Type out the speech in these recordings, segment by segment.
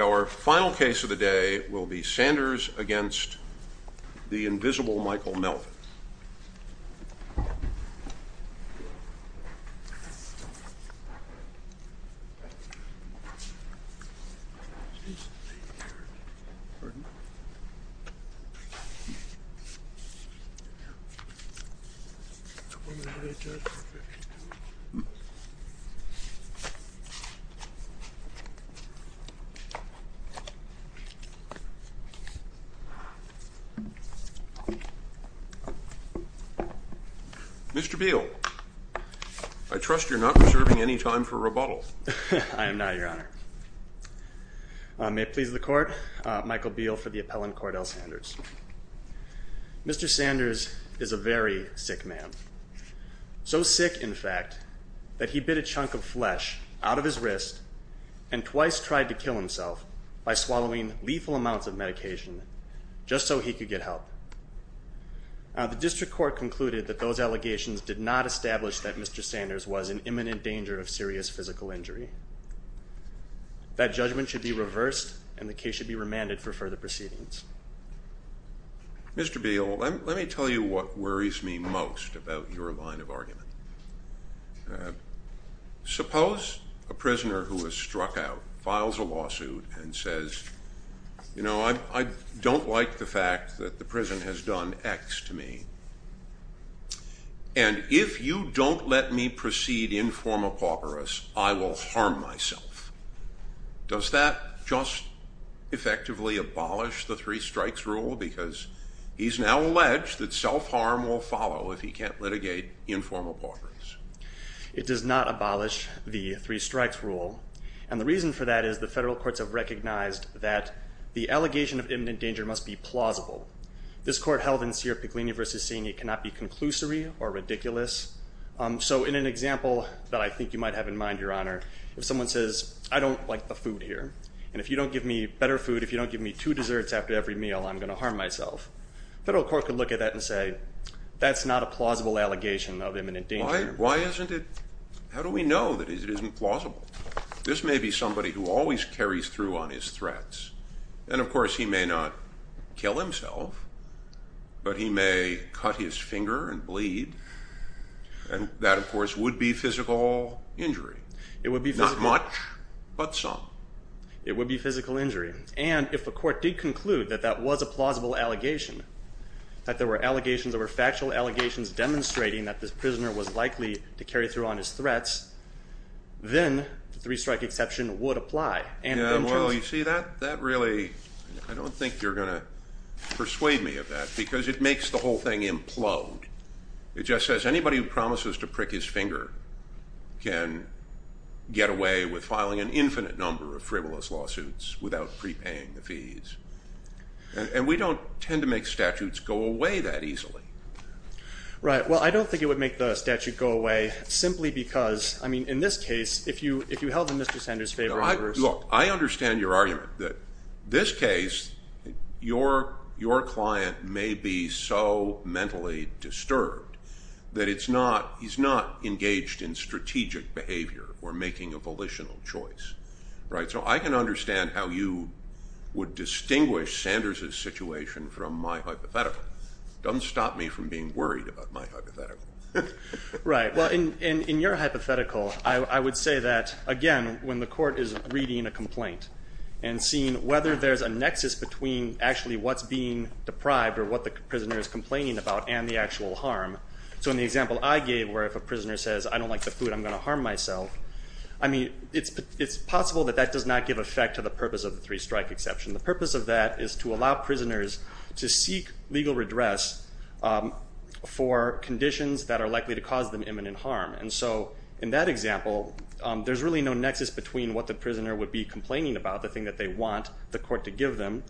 Our final case of the day will be Sanders v. The Invisible Michael Melvin. Mr. Beal, I trust you're not reserving any time for rebuttal. I am not, your honor. May it please the court, Michael Beal for the appellant Cordell Sanders. Mr. Sanders is a very sick man. So sick, in fact, that he bit a chunk of flesh out of his wrist and twice tried to kill himself by swallowing lethal amounts of medication just so he could get help. The district court concluded that those allegations did not establish that Mr. Sanders was in imminent danger of serious physical injury. That judgment should be reversed and the case should be remanded for further proceedings. Mr. Beal, let me tell you what worries me most about your line of argument. Suppose a prisoner who was struck out files a lawsuit and says, you know, I don't like the fact that the prison has done X to me. And if you don't let me proceed in forma pauperis, I will harm myself. Does that just effectively abolish the three strikes rule? Because he's now alleged that self-harm will follow if he can't litigate in forma pauperis. It does not abolish the three strikes rule. And the reason for that is the federal courts have recognized that the allegation of imminent danger must be plausible. This court held in Sierra Puglini versus seeing it cannot be conclusory or ridiculous. So in an example that I think you might have in mind, your honor, if someone says, I don't like the food here. And if you don't give me better food, if you don't give me two desserts after every meal, I'm going to harm myself. Federal court could look at that and say that's not a plausible allegation of imminent danger. Why isn't it? How do we know that it isn't plausible? This may be somebody who always carries through on his threats. And of course, he may not kill himself, but he may cut his finger and bleed. And that, of course, would be physical injury. Not much, but some. It would be physical injury. And if a court did conclude that that was a plausible allegation, that there were allegations, there were factual allegations demonstrating that this prisoner was likely to carry through on his threats, then the three strike exception would apply. Yeah, well, you see, that really, I don't think you're going to persuade me of that because it makes the whole thing implode. It just says anybody who promises to prick his finger can get away with filing an infinite number of frivolous lawsuits without prepaying the fees. And we don't tend to make statutes go away that easily. Right. Well, I don't think it would make the statute go away simply because, I mean, in this case, if you held him, Mr. Sanders, in favor of yours. Look, I understand your argument that this case, your client may be so mentally disturbed that he's not engaged in strategic behavior or making a volitional choice. So I can understand how you would distinguish Sanders' situation from my hypothetical. It doesn't stop me from being worried about my hypothetical. Right. Well, in your hypothetical, I would say that, again, when the court is reading a complaint and seeing whether there's a nexus between actually what's being deprived or what the prisoner is complaining about and the actual harm. So in the example I gave where if a prisoner says, I don't like the food, I'm going to harm myself, I mean, it's possible that that does not give effect to the purpose of the three strike exception. The purpose of that is to allow prisoners to seek legal redress for conditions that are likely to cause them imminent harm. And so in that example, there's really no nexus between what the prisoner would be complaining about, the thing that they want the court to give them,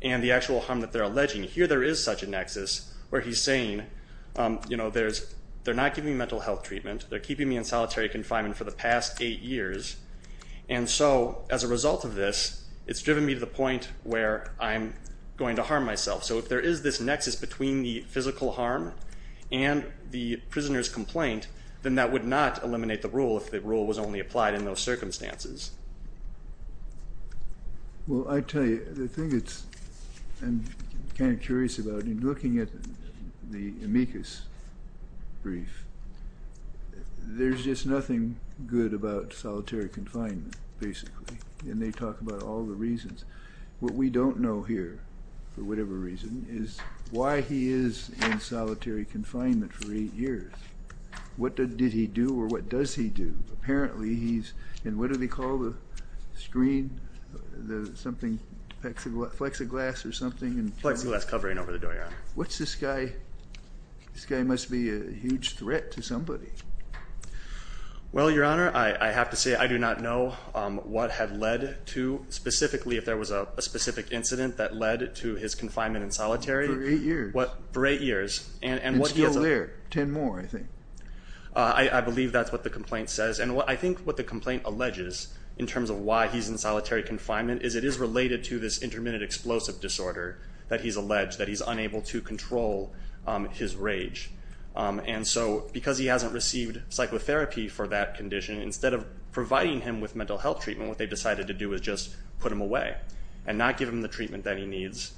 and the actual harm that they're alleging. Here there is such a nexus where he's saying, you know, they're not giving me mental health treatment. They're keeping me in solitary confinement for the past eight years. And so as a result of this, it's driven me to the point where I'm going to harm myself. So if there is this nexus between the physical harm and the prisoner's complaint, then that would not eliminate the rule if the rule was only applied in those circumstances. Well, I tell you, the thing I'm kind of curious about, in looking at the amicus brief, there's just nothing good about solitary confinement, basically. And they talk about all the reasons. What we don't know here, for whatever reason, is why he is in solitary confinement for eight years. What did he do or what does he do? Apparently he's in what do they call the screen, something, flexiglass or something? Flexiglass covering over the door, yeah. What's this guy? This guy must be a huge threat to somebody. Well, Your Honor, I have to say I do not know what had led to, specifically if there was a specific incident that led to his confinement in solitary. For eight years. For eight years. And still there. Ten more, I think. I believe that's what the complaint says. And I think what the complaint alleges in terms of why he's in solitary confinement is it is related to this intermittent explosive disorder that he's alleged, that he's unable to control his rage. And so because he hasn't received psychotherapy for that condition, instead of providing him with mental health treatment, what they've decided to do is just put him away and not give him the treatment that he needs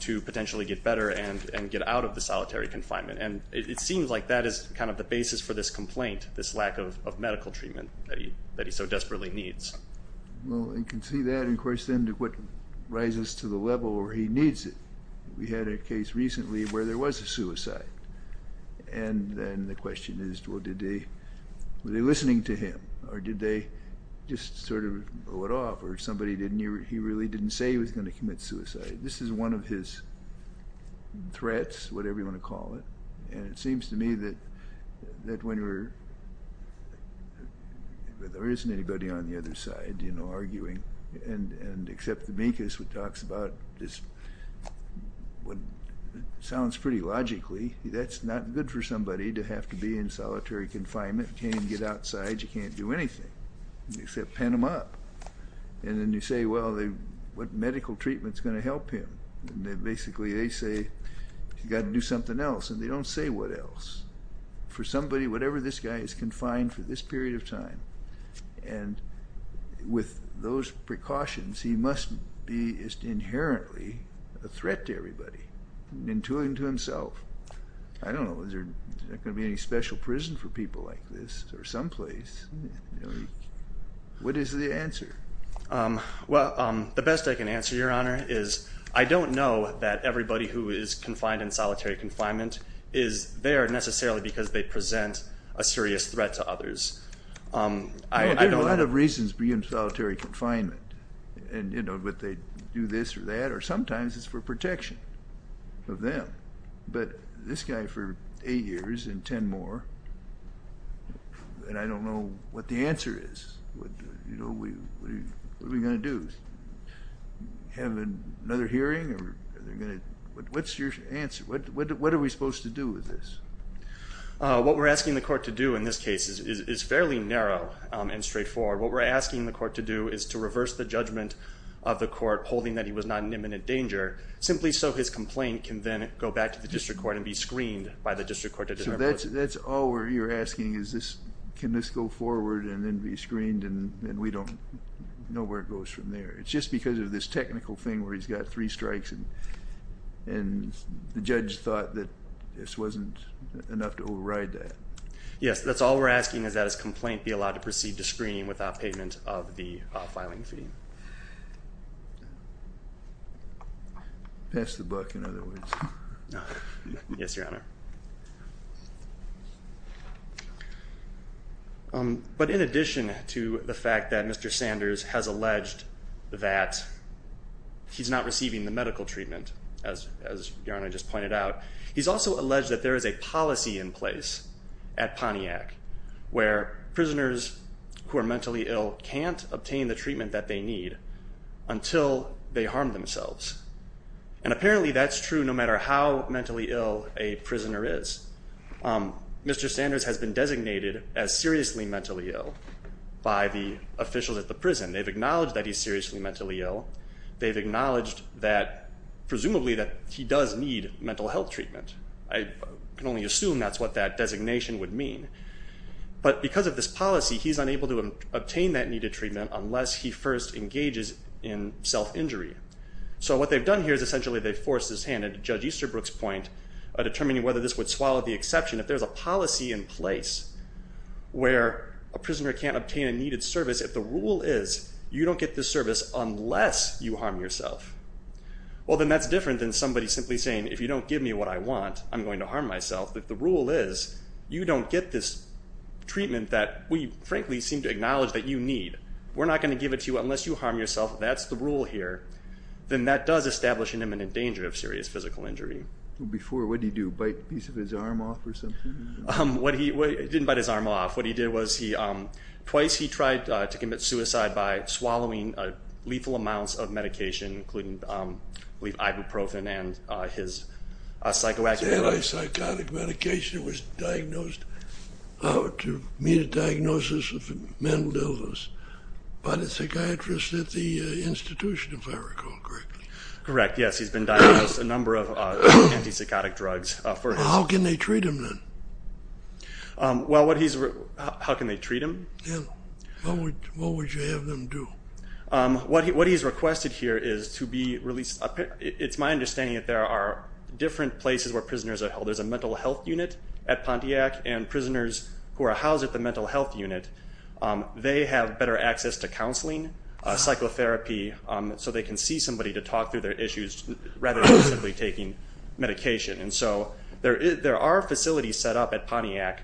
to potentially get better and get out of the solitary confinement. And it seems like that is kind of the basis for this complaint, this lack of medical treatment that he so desperately needs. Well, you can see that. And, of course, then what rises to the level where he needs it. We had a case recently where there was a suicide. And then the question is, well, were they listening to him? Or did they just sort of blow it off? Or he really didn't say he was going to commit suicide? This is one of his threats, whatever you want to call it. And it seems to me that when there isn't anybody on the other side, you know, arguing, and except the mink is what talks about this, what sounds pretty logically, that's not good for somebody to have to be in solitary confinement, can't even get outside, you can't do anything except pen him up. And then you say, well, what medical treatment is going to help him? And then basically they say, you've got to do something else. And they don't say what else. For somebody, whatever this guy is confined for this period of time, and with those precautions, he must be inherently a threat to everybody, and to himself. I don't know. Is there going to be any special prison for people like this or someplace? What is the answer? Well, the best I can answer, Your Honor, is I don't know that everybody who is confined in solitary confinement is there necessarily because they present a serious threat to others. There are a lot of reasons to be in solitary confinement, whether they do this or that, or sometimes it's for protection of them. But this guy for eight years and ten more, and I don't know what the answer is. What are we going to do? Have another hearing? What's your answer? What are we supposed to do with this? What we're asking the court to do in this case is fairly narrow and straightforward. What we're asking the court to do is to reverse the judgment of the court holding that he was not in imminent danger, simply so his complaint can then go back to the district court and be screened by the district court. So that's all you're asking is can this go forward and then be screened and we don't know where it goes from there. It's just because of this technical thing where he's got three strikes and the judge thought that this wasn't enough to override that. Yes, that's all we're asking is that his complaint be allowed to proceed to screening without payment of the filing fee. Pass the buck, in other words. Yes, Your Honor. But in addition to the fact that Mr. Sanders has alleged that he's not receiving the medical treatment, as Your Honor just pointed out, he's also alleged that there is a policy in place at Pontiac where prisoners who are mentally ill can't obtain the treatment that they need until they harm themselves. And apparently that's true no matter how mentally ill a prisoner is. Mr. Sanders has been designated as seriously mentally ill by the officials at the prison. They've acknowledged that he's seriously mentally ill. They've acknowledged that presumably that he does need mental health treatment. I can only assume that's what that designation would mean. But because of this policy, he's unable to obtain that needed treatment unless he first engages in self-injury. So what they've done here is essentially they've forced his hand into Judge Easterbrook's point, determining whether this would swallow the exception. If there's a policy in place where a prisoner can't obtain a needed service, if the rule is you don't get this service unless you harm yourself, well, then that's different than somebody simply saying, if you don't give me what I want, I'm going to harm myself. If the rule is you don't get this treatment that we, frankly, seem to acknowledge that you need, we're not going to give it to you unless you harm yourself, that's the rule here, then that does establish an imminent danger of serious physical injury. Before, what did he do, bite a piece of his arm off or something? He didn't bite his arm off. What he did was twice he tried to commit suicide by swallowing lethal amounts of medication, including ibuprofen and his psychoactive drugs. Anti-psychotic medication was diagnosed to meet a diagnosis of mental illness. By the psychiatrist at the institution, if I recall correctly. Correct, yes. He's been diagnosed a number of anti-psychotic drugs. How can they treat him then? How can they treat him? Yeah. What would you have them do? What he's requested here is to be released. It's my understanding that there are different places where prisoners are held. There's a mental health unit at Pontiac, and prisoners who are housed at the mental health unit, they have better access to counseling, psychotherapy, so they can see somebody to talk through their issues rather than simply taking medication. And so there are facilities set up at Pontiac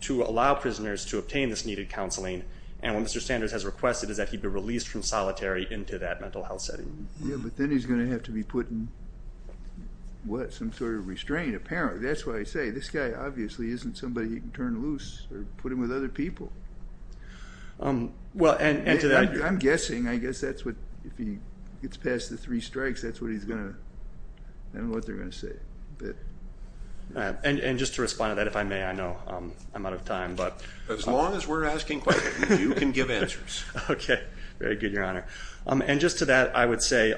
to allow prisoners to obtain this needed counseling, and what Mr. Sanders has requested is that he be released from solitary into that mental health setting. Yeah, but then he's going to have to be put in, what, some sort of restraint, apparently. That's why I say this guy obviously isn't somebody he can turn loose or put him with other people. I'm guessing, I guess that's what, if he gets past the three strikes, that's what he's going to, I don't know what they're going to say. And just to respond to that, if I may, I know I'm out of time. As long as we're asking questions, you can give answers. Okay. Very good, Your Honor. And just to that, I would say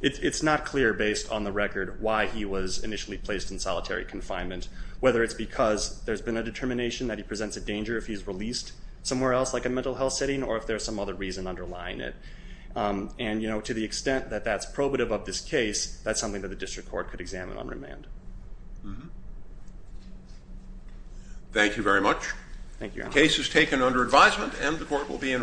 it's not clear, based on the record, why he was initially placed in solitary confinement, whether it's because there's been a determination that he presents a danger if he's released somewhere else like a mental health setting or if there's some other reason underlying it. And, you know, to the extent that that's probative of this case, that's something that the district court could examine on remand. Thank you very much. Thank you, Your Honor. The case is taken under advisement and the court will be in recess.